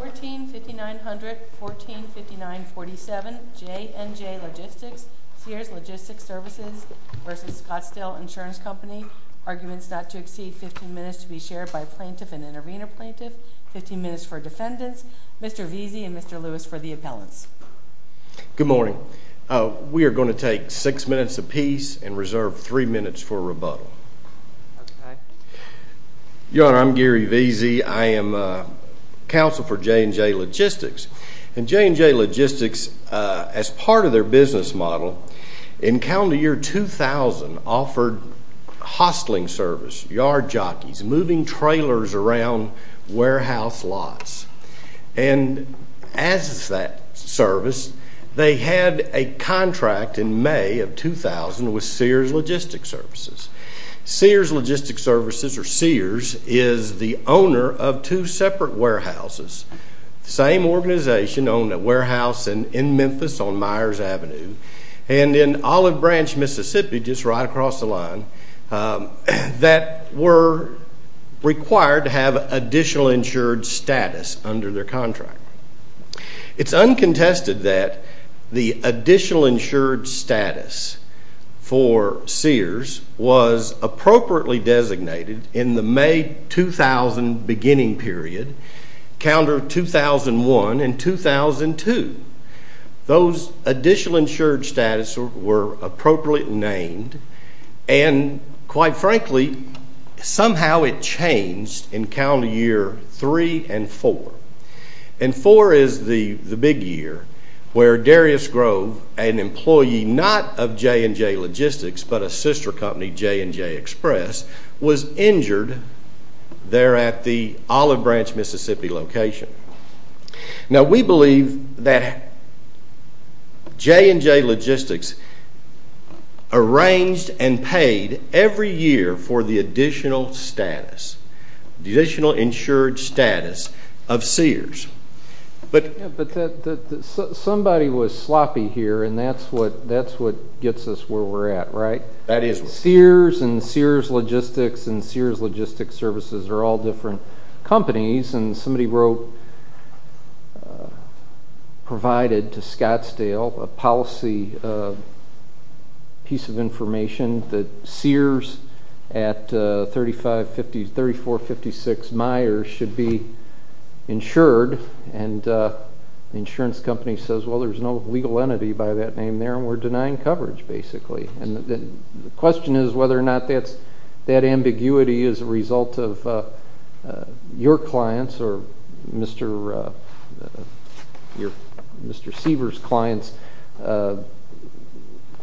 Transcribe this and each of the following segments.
14-5900, 14-5947, JNJ Logistics, Sears Logistics Services v. Scottsdale Insurance Company. Arguments not to exceed 15 minutes to be shared by a plaintiff and an arena plaintiff. 15 minutes for defendants. Mr. Veazey and Mr. Lewis for the appellants. Good morning. We are going to take six minutes apiece and reserve three minutes for rebuttal. Your Honor, I'm Gary Veazey. I am counsel for JNJ Logistics. And JNJ Logistics, as part of their business model, in calendar year 2000, offered hosteling service, yard jockeys, moving trailers around warehouse lots. And as that service, they had a contract in May of 2000 with Sears Logistics Services. Sears Logistics Services, or Sears, is the owner of two separate warehouses, the same organization owned a warehouse in Memphis on Myers Avenue and in Olive Branch, Mississippi, just right across the line, that were required to have additional insured status under their contract. It's uncontested that the additional insured status for Sears was appropriately designated in the May 2000 beginning period, calendar 2001 and 2002. Those additional insured status were appropriately named and, quite frankly, somehow it changed in calendar year 3 and 4. And 4 is the big year where Darius Grove, an employee not of JNJ Logistics but a sister company, JNJ Express, was injured there at the Olive Branch, Mississippi location. Now we believe that JNJ Logistics arranged and paid every year for the additional status, the additional insured status of Sears. But somebody was sloppy here and that's what gets us where we're at, right? Sears and Sears Logistics and Sears Logistics Services are all different companies and somebody provided to Scottsdale a policy piece of information that Sears at 3456 Myers should be insured. And the insurance company says, well, there's no legal entity by that name there and we're denying coverage, basically. And the question is whether or not that ambiguity is a result of your clients or Mr. Seavers' clients'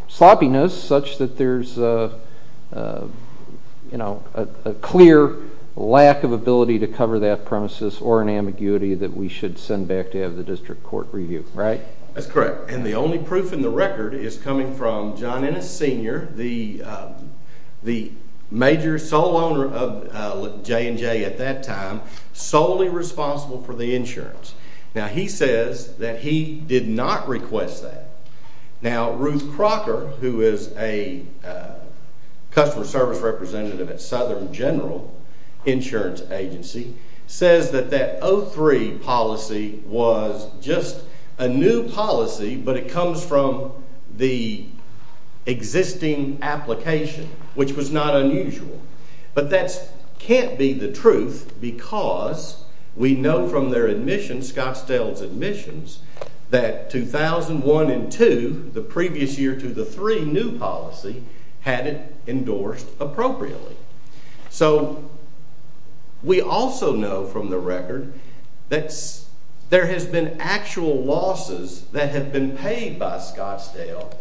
sloppiness such that there's a clear lack of ability to cover that premises or an ambiguity that we should send back to have the district court review, right? That's correct. And the only proof in the record is coming from John Ennis Sr., the major sole owner of JNJ at that time, solely responsible for the insurance. Now he says that he did not request that. Now Ruth Crocker, who is a customer service representative at Southern General Insurance Agency, says that that 03 policy was just a new policy but it comes from the existing application, which was not unusual. But that can't be the truth because we know from their admissions, Scottsdale's admissions, that 2001 and 2, the previous year to the 03 new policy, had it endorsed appropriately. So we also know from the record that there has been actual losses that have been paid by Scottsdale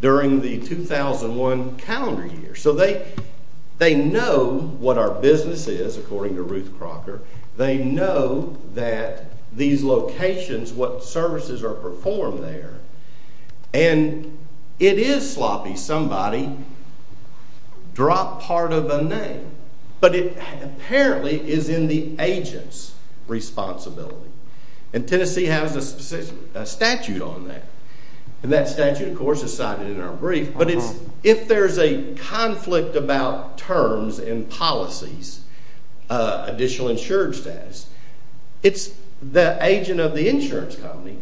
during the 2001 calendar year. So they know what our business is, according to Ruth Crocker. They know that these locations, what services are performed there. And it is sloppy. Somebody dropped part of a name. But it apparently is in the agent's responsibility. And Tennessee has a statute on that. And that statute, of course, is cited in our brief. But if there's a conflict about terms and policies, additional insurance status, it's the agent of the insurance company,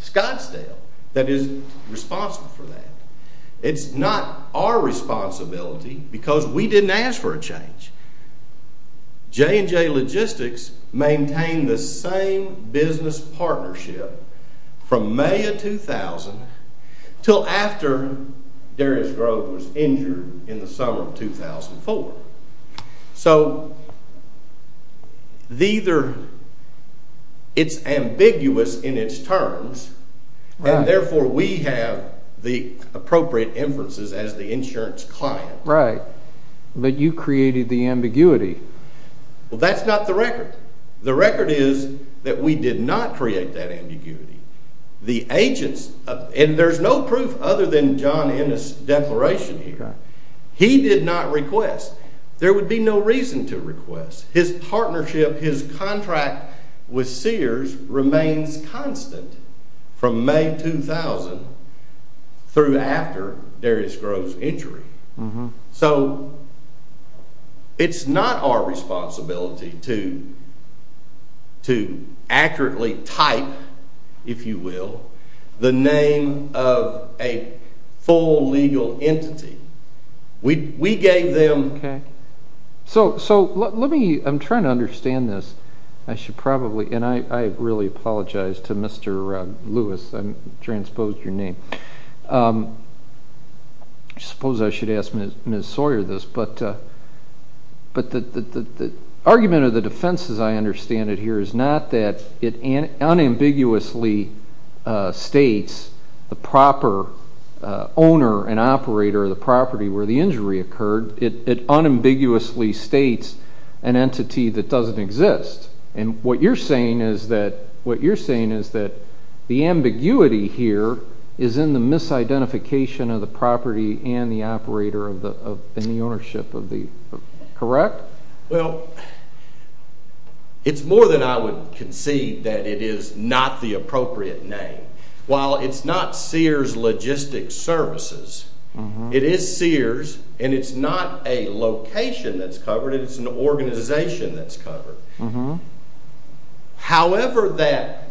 Scottsdale, that is responsible for that. It's not our responsibility because we didn't ask for a change. J&J Logistics maintained the same business partnership from May of 2000 until after Darius Grove was injured in the summer of 2004. So it's ambiguous in its terms and therefore we have the appropriate inferences as the insurance client. Right. But you created the ambiguity. Well that's not the record. The record is that we did not create that ambiguity. The agents, and there's no proof other than John Ennis' declaration here. He did not request. There would be no reason to request. His partnership, his contract with Sears remains constant from May 2000 through after Darius Grove's injury. So it's not our responsibility to accurately type, if you will, the name of a full legal entity. We gave them… So let me, I'm trying to understand this. I should probably, and I really apologize to Mr. Lewis. I transposed your name. I suppose I should ask Ms. Sawyer this, but the argument of the defense, as I understand it here, is not that it unambiguously states the proper owner and operator of the property where the injury occurred. It unambiguously states an entity that doesn't exist. And what you're saying is that the ambiguity here is in the misidentification of the property and the operator and the ownership. Correct? Well, it's more than I would concede that it is not the appropriate name. While it's not Sears Logistics Services, it is Sears, and it's not a location that's covered, it's an organization that's covered. However that,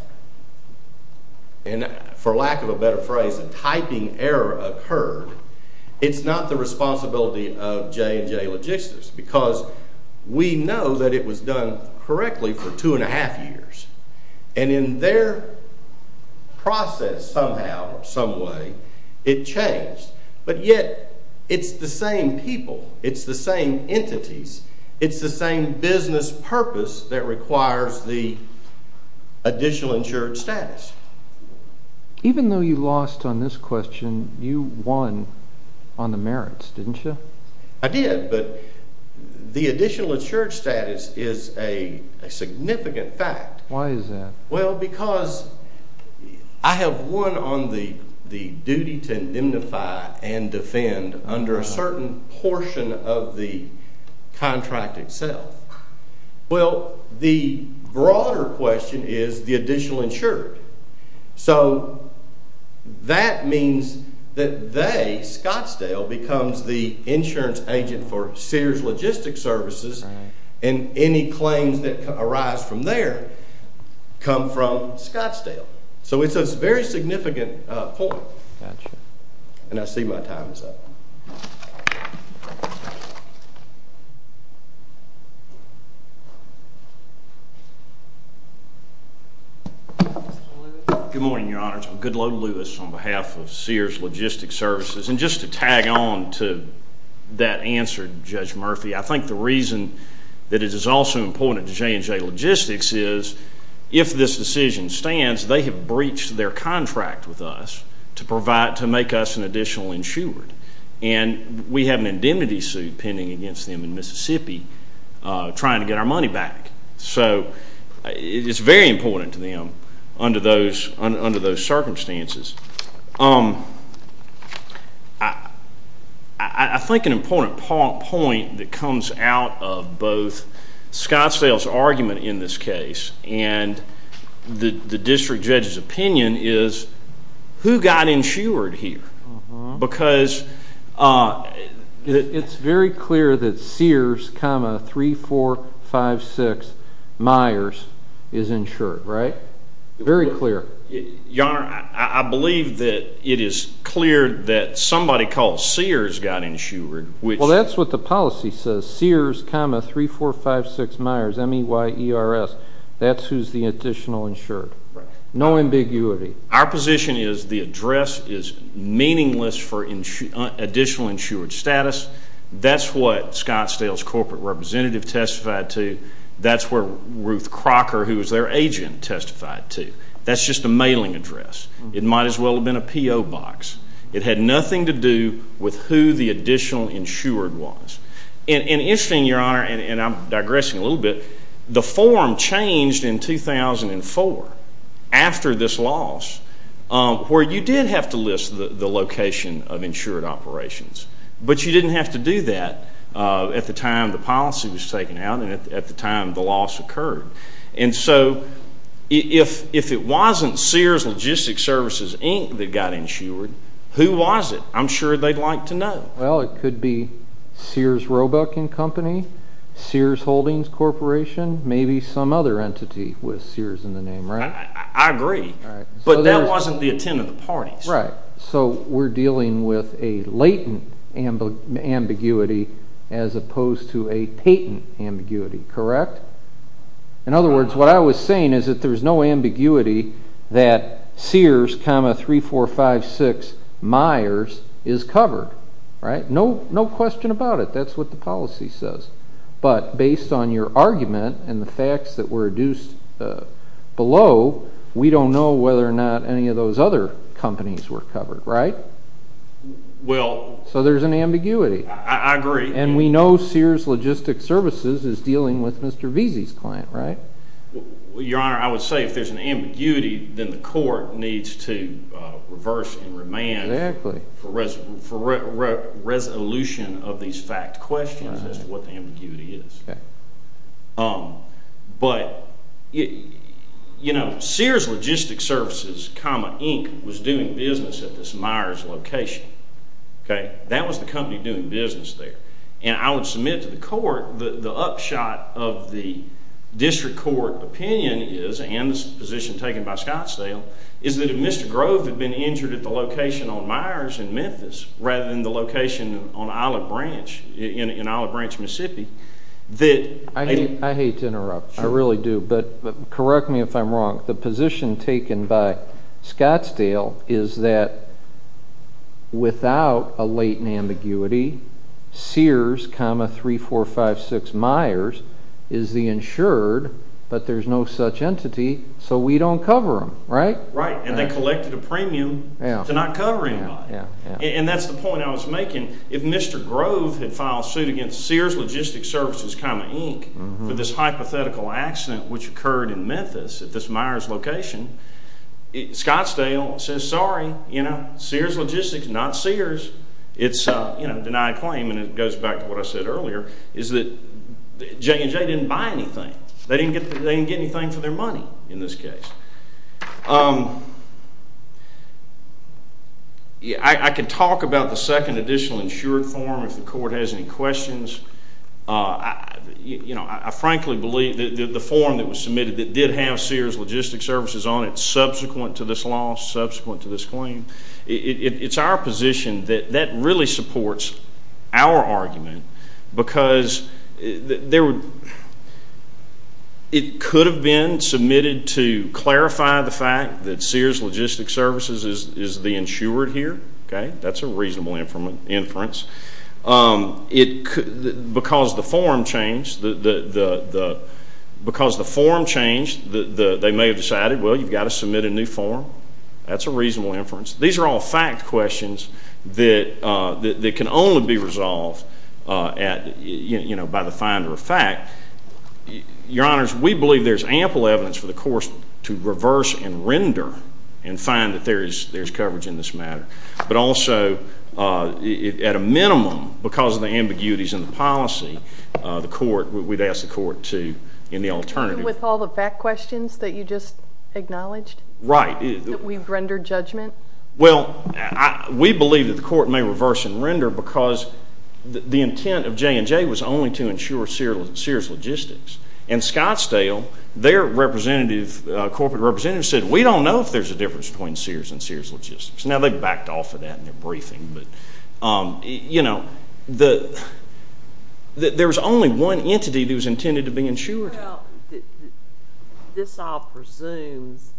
for lack of a better phrase, a typing error occurred, it's not the responsibility of J&J Logistics because we know that it was done correctly for two and a half years. And in their process somehow, some way, it changed. But yet it's the same people, it's the same entities, it's the same business purpose that requires the additional insured status. Even though you lost on this question, you won on the merits, didn't you? I did, but the additional insured status is a significant fact. Why is that? Well, because I have won on the duty to indemnify and defend under a certain portion of the contract itself. Well, the broader question is the additional insured. So that means that they, Scottsdale, becomes the insurance agent for Sears Logistics Services and any claims that arise from there come from Scottsdale. So it's a very significant point. Gotcha. And I see my time is up. Mr. Lewis. Good morning, Your Honors. I'm Goodloe Lewis on behalf of Sears Logistics Services. And just to tag on to that answer, Judge Murphy, I think the reason that it is also important to J&J Logistics is if this decision stands, they have breached their contract with us to make us an additional insured. And we have an indemnity suit pending against them in Mississippi trying to get our money back. So it's very important to them under those circumstances. I think an important point that comes out of both Scottsdale's argument in this case and the district judge's opinion is who got insured here? Because it's very clear that Sears, 3456 Myers is insured, right? Very clear. Your Honor, I believe that it is clear that somebody called Sears got insured. Well, that's what the policy says, Sears, 3456 Myers, M-E-Y-E-R-S. That's who's the additional insured. Right. No ambiguity. Our position is the address is meaningless for additional insured status. That's what Scottsdale's corporate representative testified to. That's where Ruth Crocker, who was their agent, testified to. That's just a mailing address. It might as well have been a P.O. box. It had nothing to do with who the additional insured was. And interestingly, Your Honor, and I'm digressing a little bit, the form changed in 2004 after this loss, where you did have to list the location of insured operations. But you didn't have to do that at the time the policy was taken out and at the time the loss occurred. And so if it wasn't Sears Logistics Services, Inc. that got insured, who was it? I'm sure they'd like to know. Well, it could be Sears Roebuck & Company, Sears Holdings Corporation, maybe some other entity with Sears in the name, right? I agree, but that wasn't the intent of the parties. Right. So we're dealing with a latent ambiguity as opposed to a patent ambiguity, correct? In other words, what I was saying is that there's no ambiguity that Sears, 3456 Myers is covered, right? No question about it. That's what the policy says. But based on your argument and the facts that were reduced below, we don't know whether or not any of those other companies were covered, right? Well. So there's an ambiguity. I agree. And we know Sears Logistics Services is dealing with Mr. Veazey's client, right? Your Honor, I would say if there's an ambiguity, then the court needs to reverse and remand for resolution of these fact questions as to what the ambiguity is. Okay. But, you know, Sears Logistics Services, Inc. was doing business at this Myers location, okay? That was the company doing business there. And I would submit to the court that the upshot of the district court opinion is, and this position taken by Scottsdale, is that if Mr. Grove had been injured at the location on Myers in Memphis rather than the location on Isle of Branch, in Isle of Branch, Mississippi, that they'd been covered. I hate to interrupt. I really do. But correct me if I'm wrong. The position taken by Scottsdale is that without a latent ambiguity, Sears, 3456 Myers is the insured, but there's no such entity, so we don't cover them, right? Right. And they collected a premium to not cover anybody. And that's the point I was making. If Mr. Grove had filed suit against Sears Logistics Services, Inc. for this hypothetical accident which occurred in Memphis at this Myers location, Scottsdale says, sorry, you know, Sears Logistics, not Sears. It's, you know, a denied claim, and it goes back to what I said earlier, is that J&J didn't buy anything. They didn't get anything for their money in this case. I can talk about the second additional insured form if the court has any questions. You know, I frankly believe that the form that was submitted that did have Sears Logistics Services on it subsequent to this loss, subsequent to this claim, it's our position that that really supports our argument because it could have been submitted to clarify the fact that Sears Logistics Services is the insured here. Okay? That's a reasonable inference. Because the form changed, they may have decided, well, you've got to submit a new form. That's a reasonable inference. These are all fact questions that can only be resolved by the finder of fact. Your Honors, we believe there's ample evidence for the court to reverse and render and find that there's coverage in this matter. But also, at a minimum, because of the ambiguities in the policy, the court, we'd ask the court to, in the alternative. With all the fact questions that you just acknowledged? Right. That we've rendered judgment? Well, we believe that the court may reverse and render because the intent of J&J was only to insure Sears Logistics. And Scottsdale, their representative, corporate representative said, we don't know if there's a difference between Sears and Sears Logistics. Now, they backed off of that in their briefing. But, you know, there was only one entity that was intended to be insured. Well, this all presumes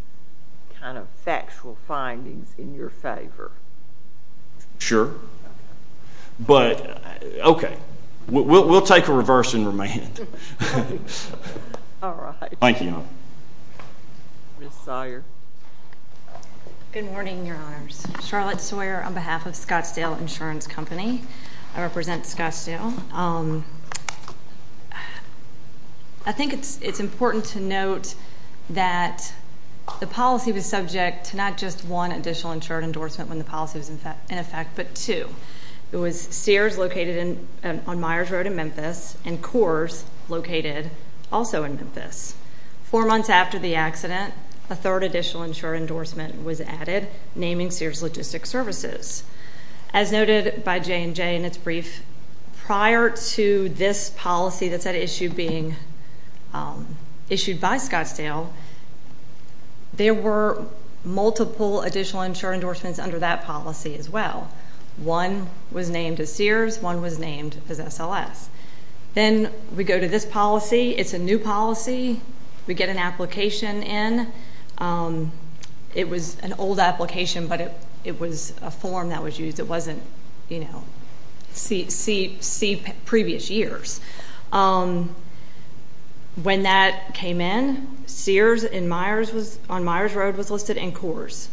kind of factual findings in your favor. Sure. But, okay. We'll take a reverse and remand. All right. Thank you. Ms. Sawyer. Good morning, Your Honors. Charlotte Sawyer on behalf of Scottsdale Insurance Company. I represent Scottsdale. I think it's important to note that the policy was subject to not just one additional insured endorsement when the policy was in effect, but two. It was Sears located on Myers Road in Memphis and Coors located also in Memphis. Four months after the accident, a third additional insured endorsement was added naming Sears Logistics Services. As noted by J&J in its brief, prior to this policy that's at issue being issued by Scottsdale, there were multiple additional insured endorsements under that policy as well. One was named as Sears. One was named as SLS. Then we go to this policy. It's a new policy. We get an application in. It was an old application, but it was a form that was used. It wasn't, you know, see previous years. When that came in, Sears on Myers Road was listed in Coors.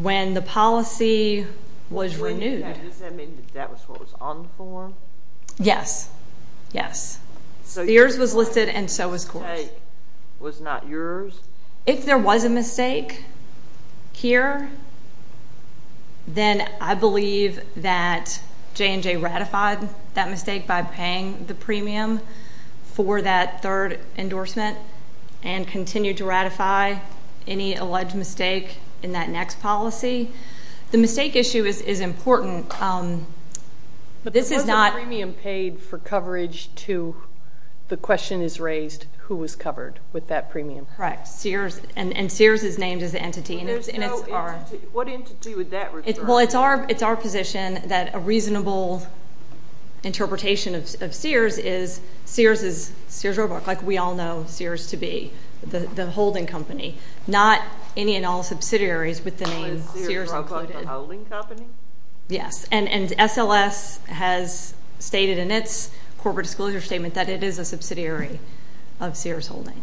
When the policy was renewed. Does that mean that was what was on the form? Yes. Yes. Sears was listed and so was Coors. The mistake was not yours? If there was a mistake here, then I believe that J&J ratified that mistake by paying the premium for that third endorsement and continued to ratify any alleged mistake in that next policy. The mistake issue is important. But the premium paid for coverage to the question is raised who was covered with that premium. Correct. And Sears is named as the entity. What entity would that refer to? Well, it's our position that a reasonable interpretation of Sears is Sears is Sears Roebuck, like we all know Sears to be, the holding company. Not any and all subsidiaries with the name Sears included. Was Sears Roebuck the holding company? Yes. And SLS has stated in its corporate disclosure statement that it is a subsidiary of Sears Holding.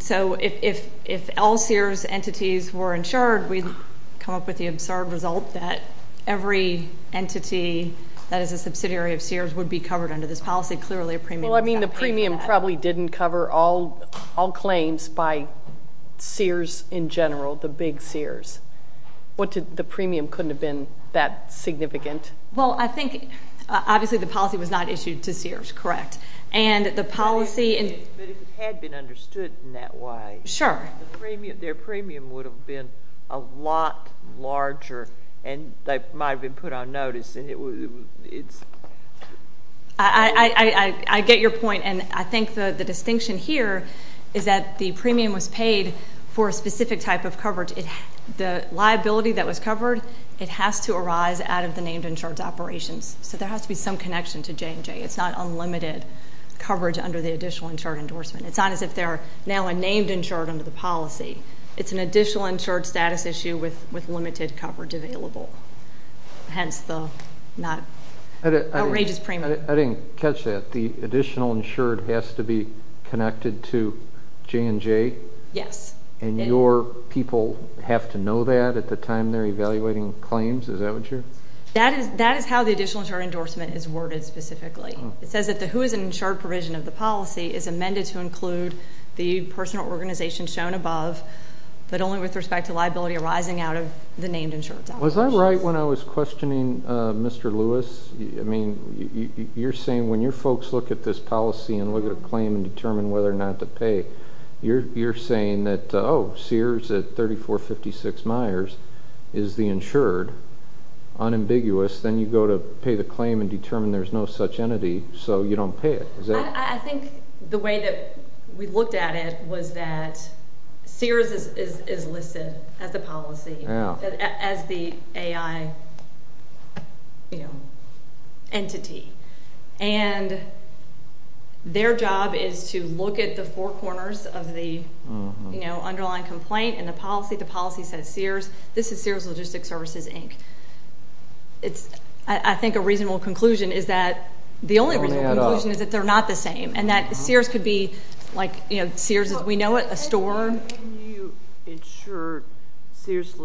So if all Sears entities were insured, we'd come up with the absurd result that every entity that is a subsidiary of Sears would be covered under this policy. Clearly a premium was not paid for that. Well, I mean the premium probably didn't cover all claims by Sears in general, the big Sears. The premium couldn't have been that significant? Well, I think obviously the policy was not issued to Sears, correct. But if it had been understood in that way, their premium would have been a lot larger, and they might have been put on notice. I get your point, and I think the distinction here is that the premium was paid for a specific type of coverage. The liability that was covered, it has to arise out of the named insured's operations. So there has to be some connection to J&J. It's not unlimited coverage under the additional insured endorsement. It's not as if they're now a named insured under the policy. It's an additional insured status issue with limited coverage available, hence the outrageous premium. I didn't catch that. The additional insured has to be connected to J&J? Yes. And your people have to know that at the time they're evaluating claims? Is that what you're saying? That is how the additional insured endorsement is worded specifically. It says that the who is an insured provision of the policy is amended to include the personal organization shown above, but only with respect to liability arising out of the named insured's operations. Was I right when I was questioning Mr. Lewis? I mean, you're saying when your folks look at this policy and look at a claim and determine whether or not to pay, you're saying that, oh, Sears at 3456 Myers is the insured, unambiguous. Then you go to pay the claim and determine there's no such entity, so you don't pay it. I think the way that we looked at it was that Sears is listed as a policy, as the AI entity, and their job is to look at the four corners of the underlying complaint and the policy. The policy says Sears. This is Sears Logistics Services, Inc. I think a reasonable conclusion is that the only reasonable conclusion is that they're not the same and that Sears could be like Sears as we know it, a store. Haven't you insured Sears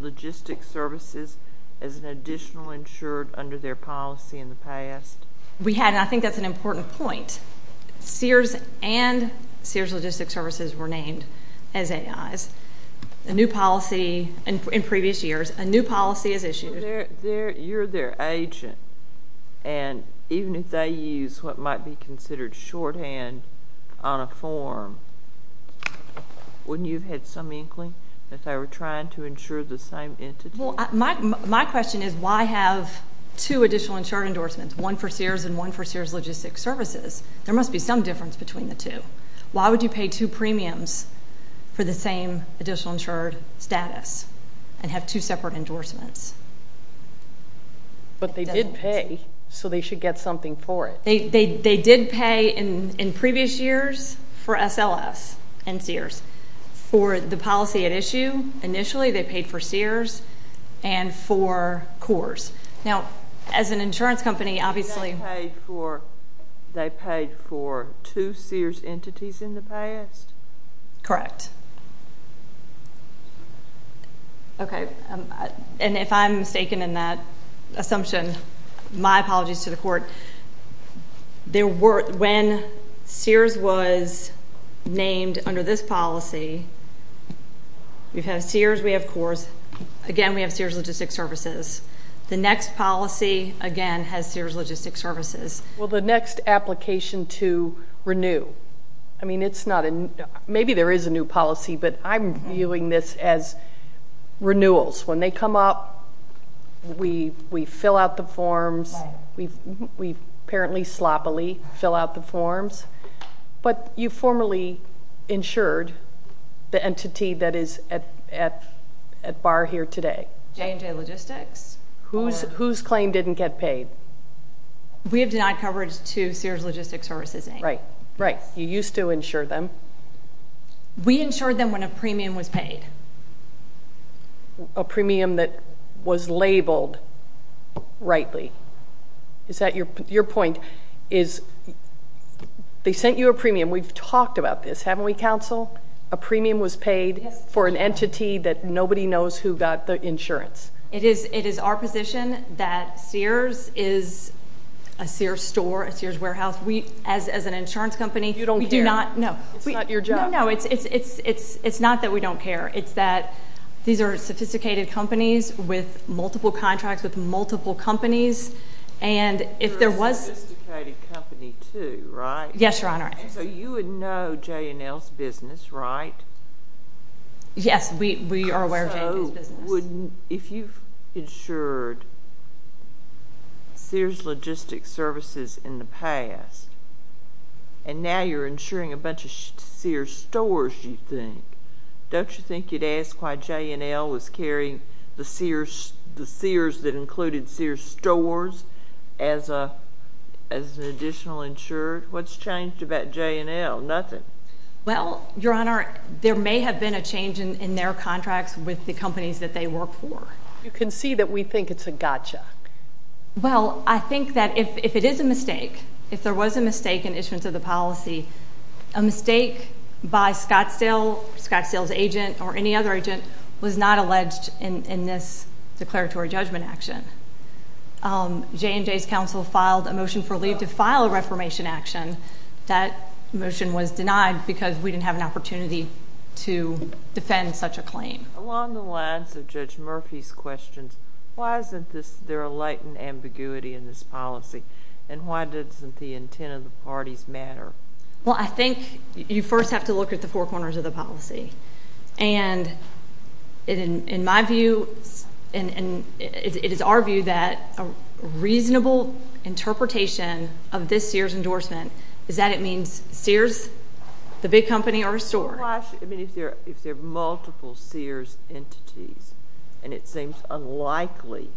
Logistics Services as an additional insured under their policy in the past? We had, and I think that's an important point. Sears and Sears Logistics Services were named as AIs. A new policy in previous years, a new policy is issued. You're their agent, and even if they use what might be considered shorthand on a form, wouldn't you have had some inkling that they were trying to insure the same entity? Well, my question is why have two additional insured endorsements, one for Sears and one for Sears Logistics Services? There must be some difference between the two. Why would you pay two premiums for the same additional insured status and have two separate endorsements? But they did pay, so they should get something for it. They did pay in previous years for SLS and Sears. For the policy at issue, initially they paid for Sears and for Coors. Now, as an insurance company, obviously— They paid for two Sears entities in the past? Correct. Okay, and if I'm mistaken in that assumption, my apologies to the court. When Sears was named under this policy, we've had Sears, we have Coors. Again, we have Sears Logistics Services. The next policy, again, has Sears Logistics Services. Well, the next application to renew. I mean, maybe there is a new policy, but I'm viewing this as renewals. When they come up, we fill out the forms. We apparently sloppily fill out the forms. But you formally insured the entity that is at bar here today? J&J Logistics. Whose claim didn't get paid? We have denied coverage to Sears Logistics Services. Right, you used to insure them. We insured them when a premium was paid. A premium that was labeled rightly. Your point is they sent you a premium. We've talked about this, haven't we, counsel? A premium was paid for an entity that nobody knows who got the insurance. It is our position that Sears is a Sears store, a Sears warehouse. As an insurance company, we do not— You don't care. It's not your job. No, no, it's not that we don't care. It's that these are sophisticated companies with multiple contracts with multiple companies, and if there was— They're a sophisticated company, too, right? Yes, Your Honor. So you would know J&L's business, right? Yes, we are aware of J&J's business. So if you've insured Sears Logistics Services in the past, and now you're insuring a bunch of Sears stores, you think, don't you think you'd ask why J&L was carrying the Sears that included Sears stores as an additional insured? What's changed about J&L? Nothing. Well, Your Honor, there may have been a change in their contracts with the companies that they work for. You can see that we think it's a gotcha. Well, I think that if it is a mistake, if there was a mistake in issuance of the policy, a mistake by Scottsdale, Scottsdale's agent or any other agent, was not alleged in this declaratory judgment action. J&J's counsel filed a motion for leave to file a reformation action. That motion was denied because we didn't have an opportunity to defend such a claim. Along the lines of Judge Murphy's questions, why isn't there a latent ambiguity in this policy, and why doesn't the intent of the parties matter? Well, I think you first have to look at the four corners of the policy, and in my view and it is our view that a reasonable interpretation of this Sears endorsement is that it means Sears, the big company, are insured. If there are multiple Sears entities and it seems unlikely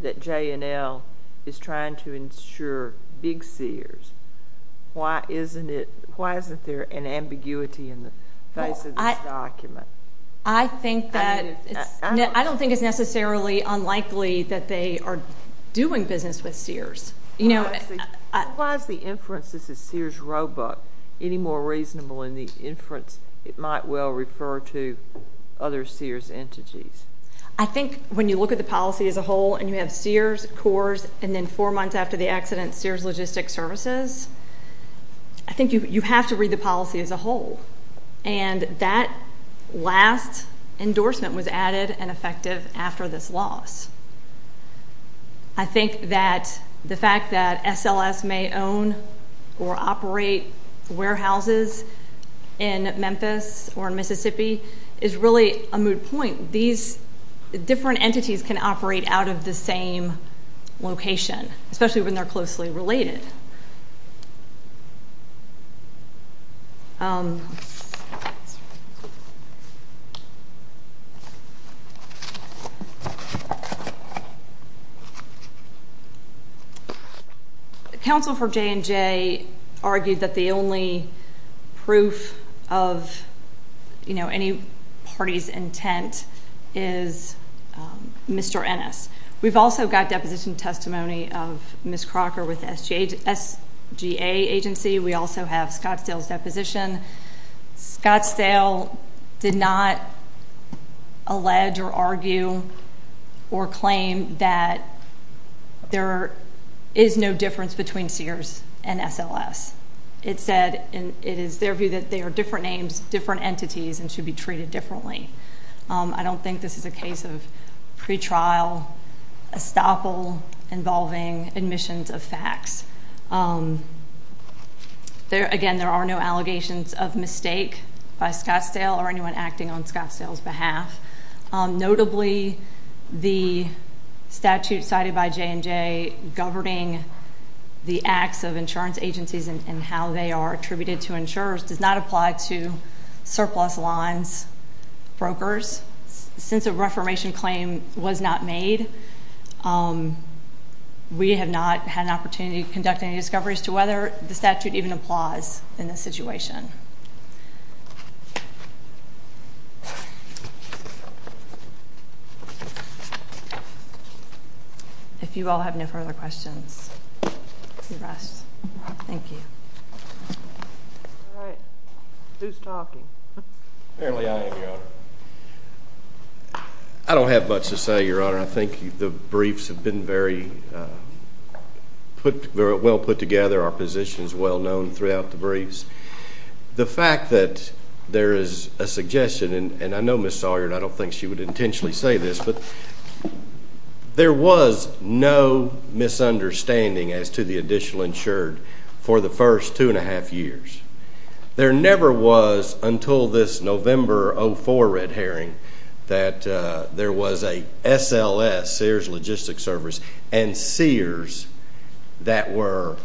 that J&L is trying to insure big Sears, why isn't there an ambiguity in the face of this document? I don't think it's necessarily unlikely that they are doing business with Sears. Why is the inference this is Sears Roebuck any more reasonable than the inference it might well refer to other Sears entities? I think when you look at the policy as a whole and you have Sears, Coors, and then four months after the accident Sears Logistics Services, I think you have to read the policy as a whole, and that last endorsement was added and effective after this loss. I think that the fact that SLS may own or operate warehouses in Memphis or Mississippi is really a moot point. These different entities can operate out of the same location, especially when they're closely related. Counsel for J&J argued that the only proof of any party's intent is Mr. Ennis. We've also got deposition testimony of Ms. Crocker with SGA Agency. Scott Stahel did not allege or argue or claim that there is no difference between Sears and SLS. It said it is their view that they are different names, different entities, and should be treated differently. I don't think this is a case of pretrial estoppel involving admissions of facts. Again, there are no allegations of mistake by Scott Stahel or anyone acting on Scott Stahel's behalf. Notably, the statute cited by J&J governing the acts of insurance agencies and how they are attributed to insurers does not apply to surplus lines brokers. Since a reformation claim was not made, we have not had an opportunity to conduct any discoveries to whether the statute even applies in this situation. If you all have no further questions, you may rest. Thank you. All right. Who's talking? Apparently I am, Your Honor. I don't have much to say, Your Honor. I think the briefs have been very well put together. Our position is well known throughout the briefs. The fact that there is a suggestion, and I know Ms. Sawyer, and I don't think she would intentionally say this, but there was no misunderstanding as to the additional insured for the first two and a half years. There never was until this November 04 red herring that there was a SLS, Sears Logistics Service, and Sears that were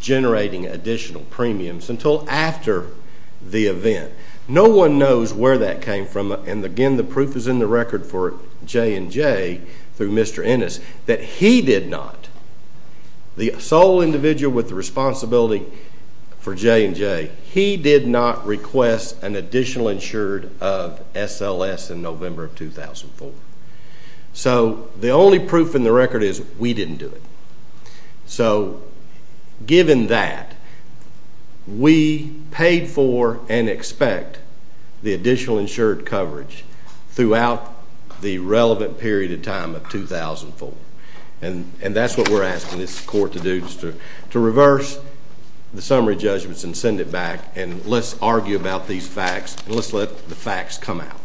generating additional premiums until after the event. No one knows where that came from, and again, the proof is in the record for J&J through Mr. Ennis that he did not, the sole individual with the responsibility for J&J, he did not request an additional insured of SLS in November of 2004. So the only proof in the record is we didn't do it. So given that, we paid for and expect the additional insured coverage throughout the relevant period of time of 2004, and that's what we're asking this court to do is to reverse the summary judgments and send it back, and let's argue about these facts, and let's let the facts come out.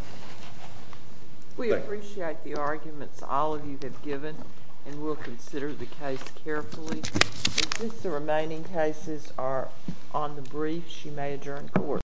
We appreciate the arguments all of you have given, and we'll consider the case carefully. Since the remaining cases are on the brief, she may adjourn court.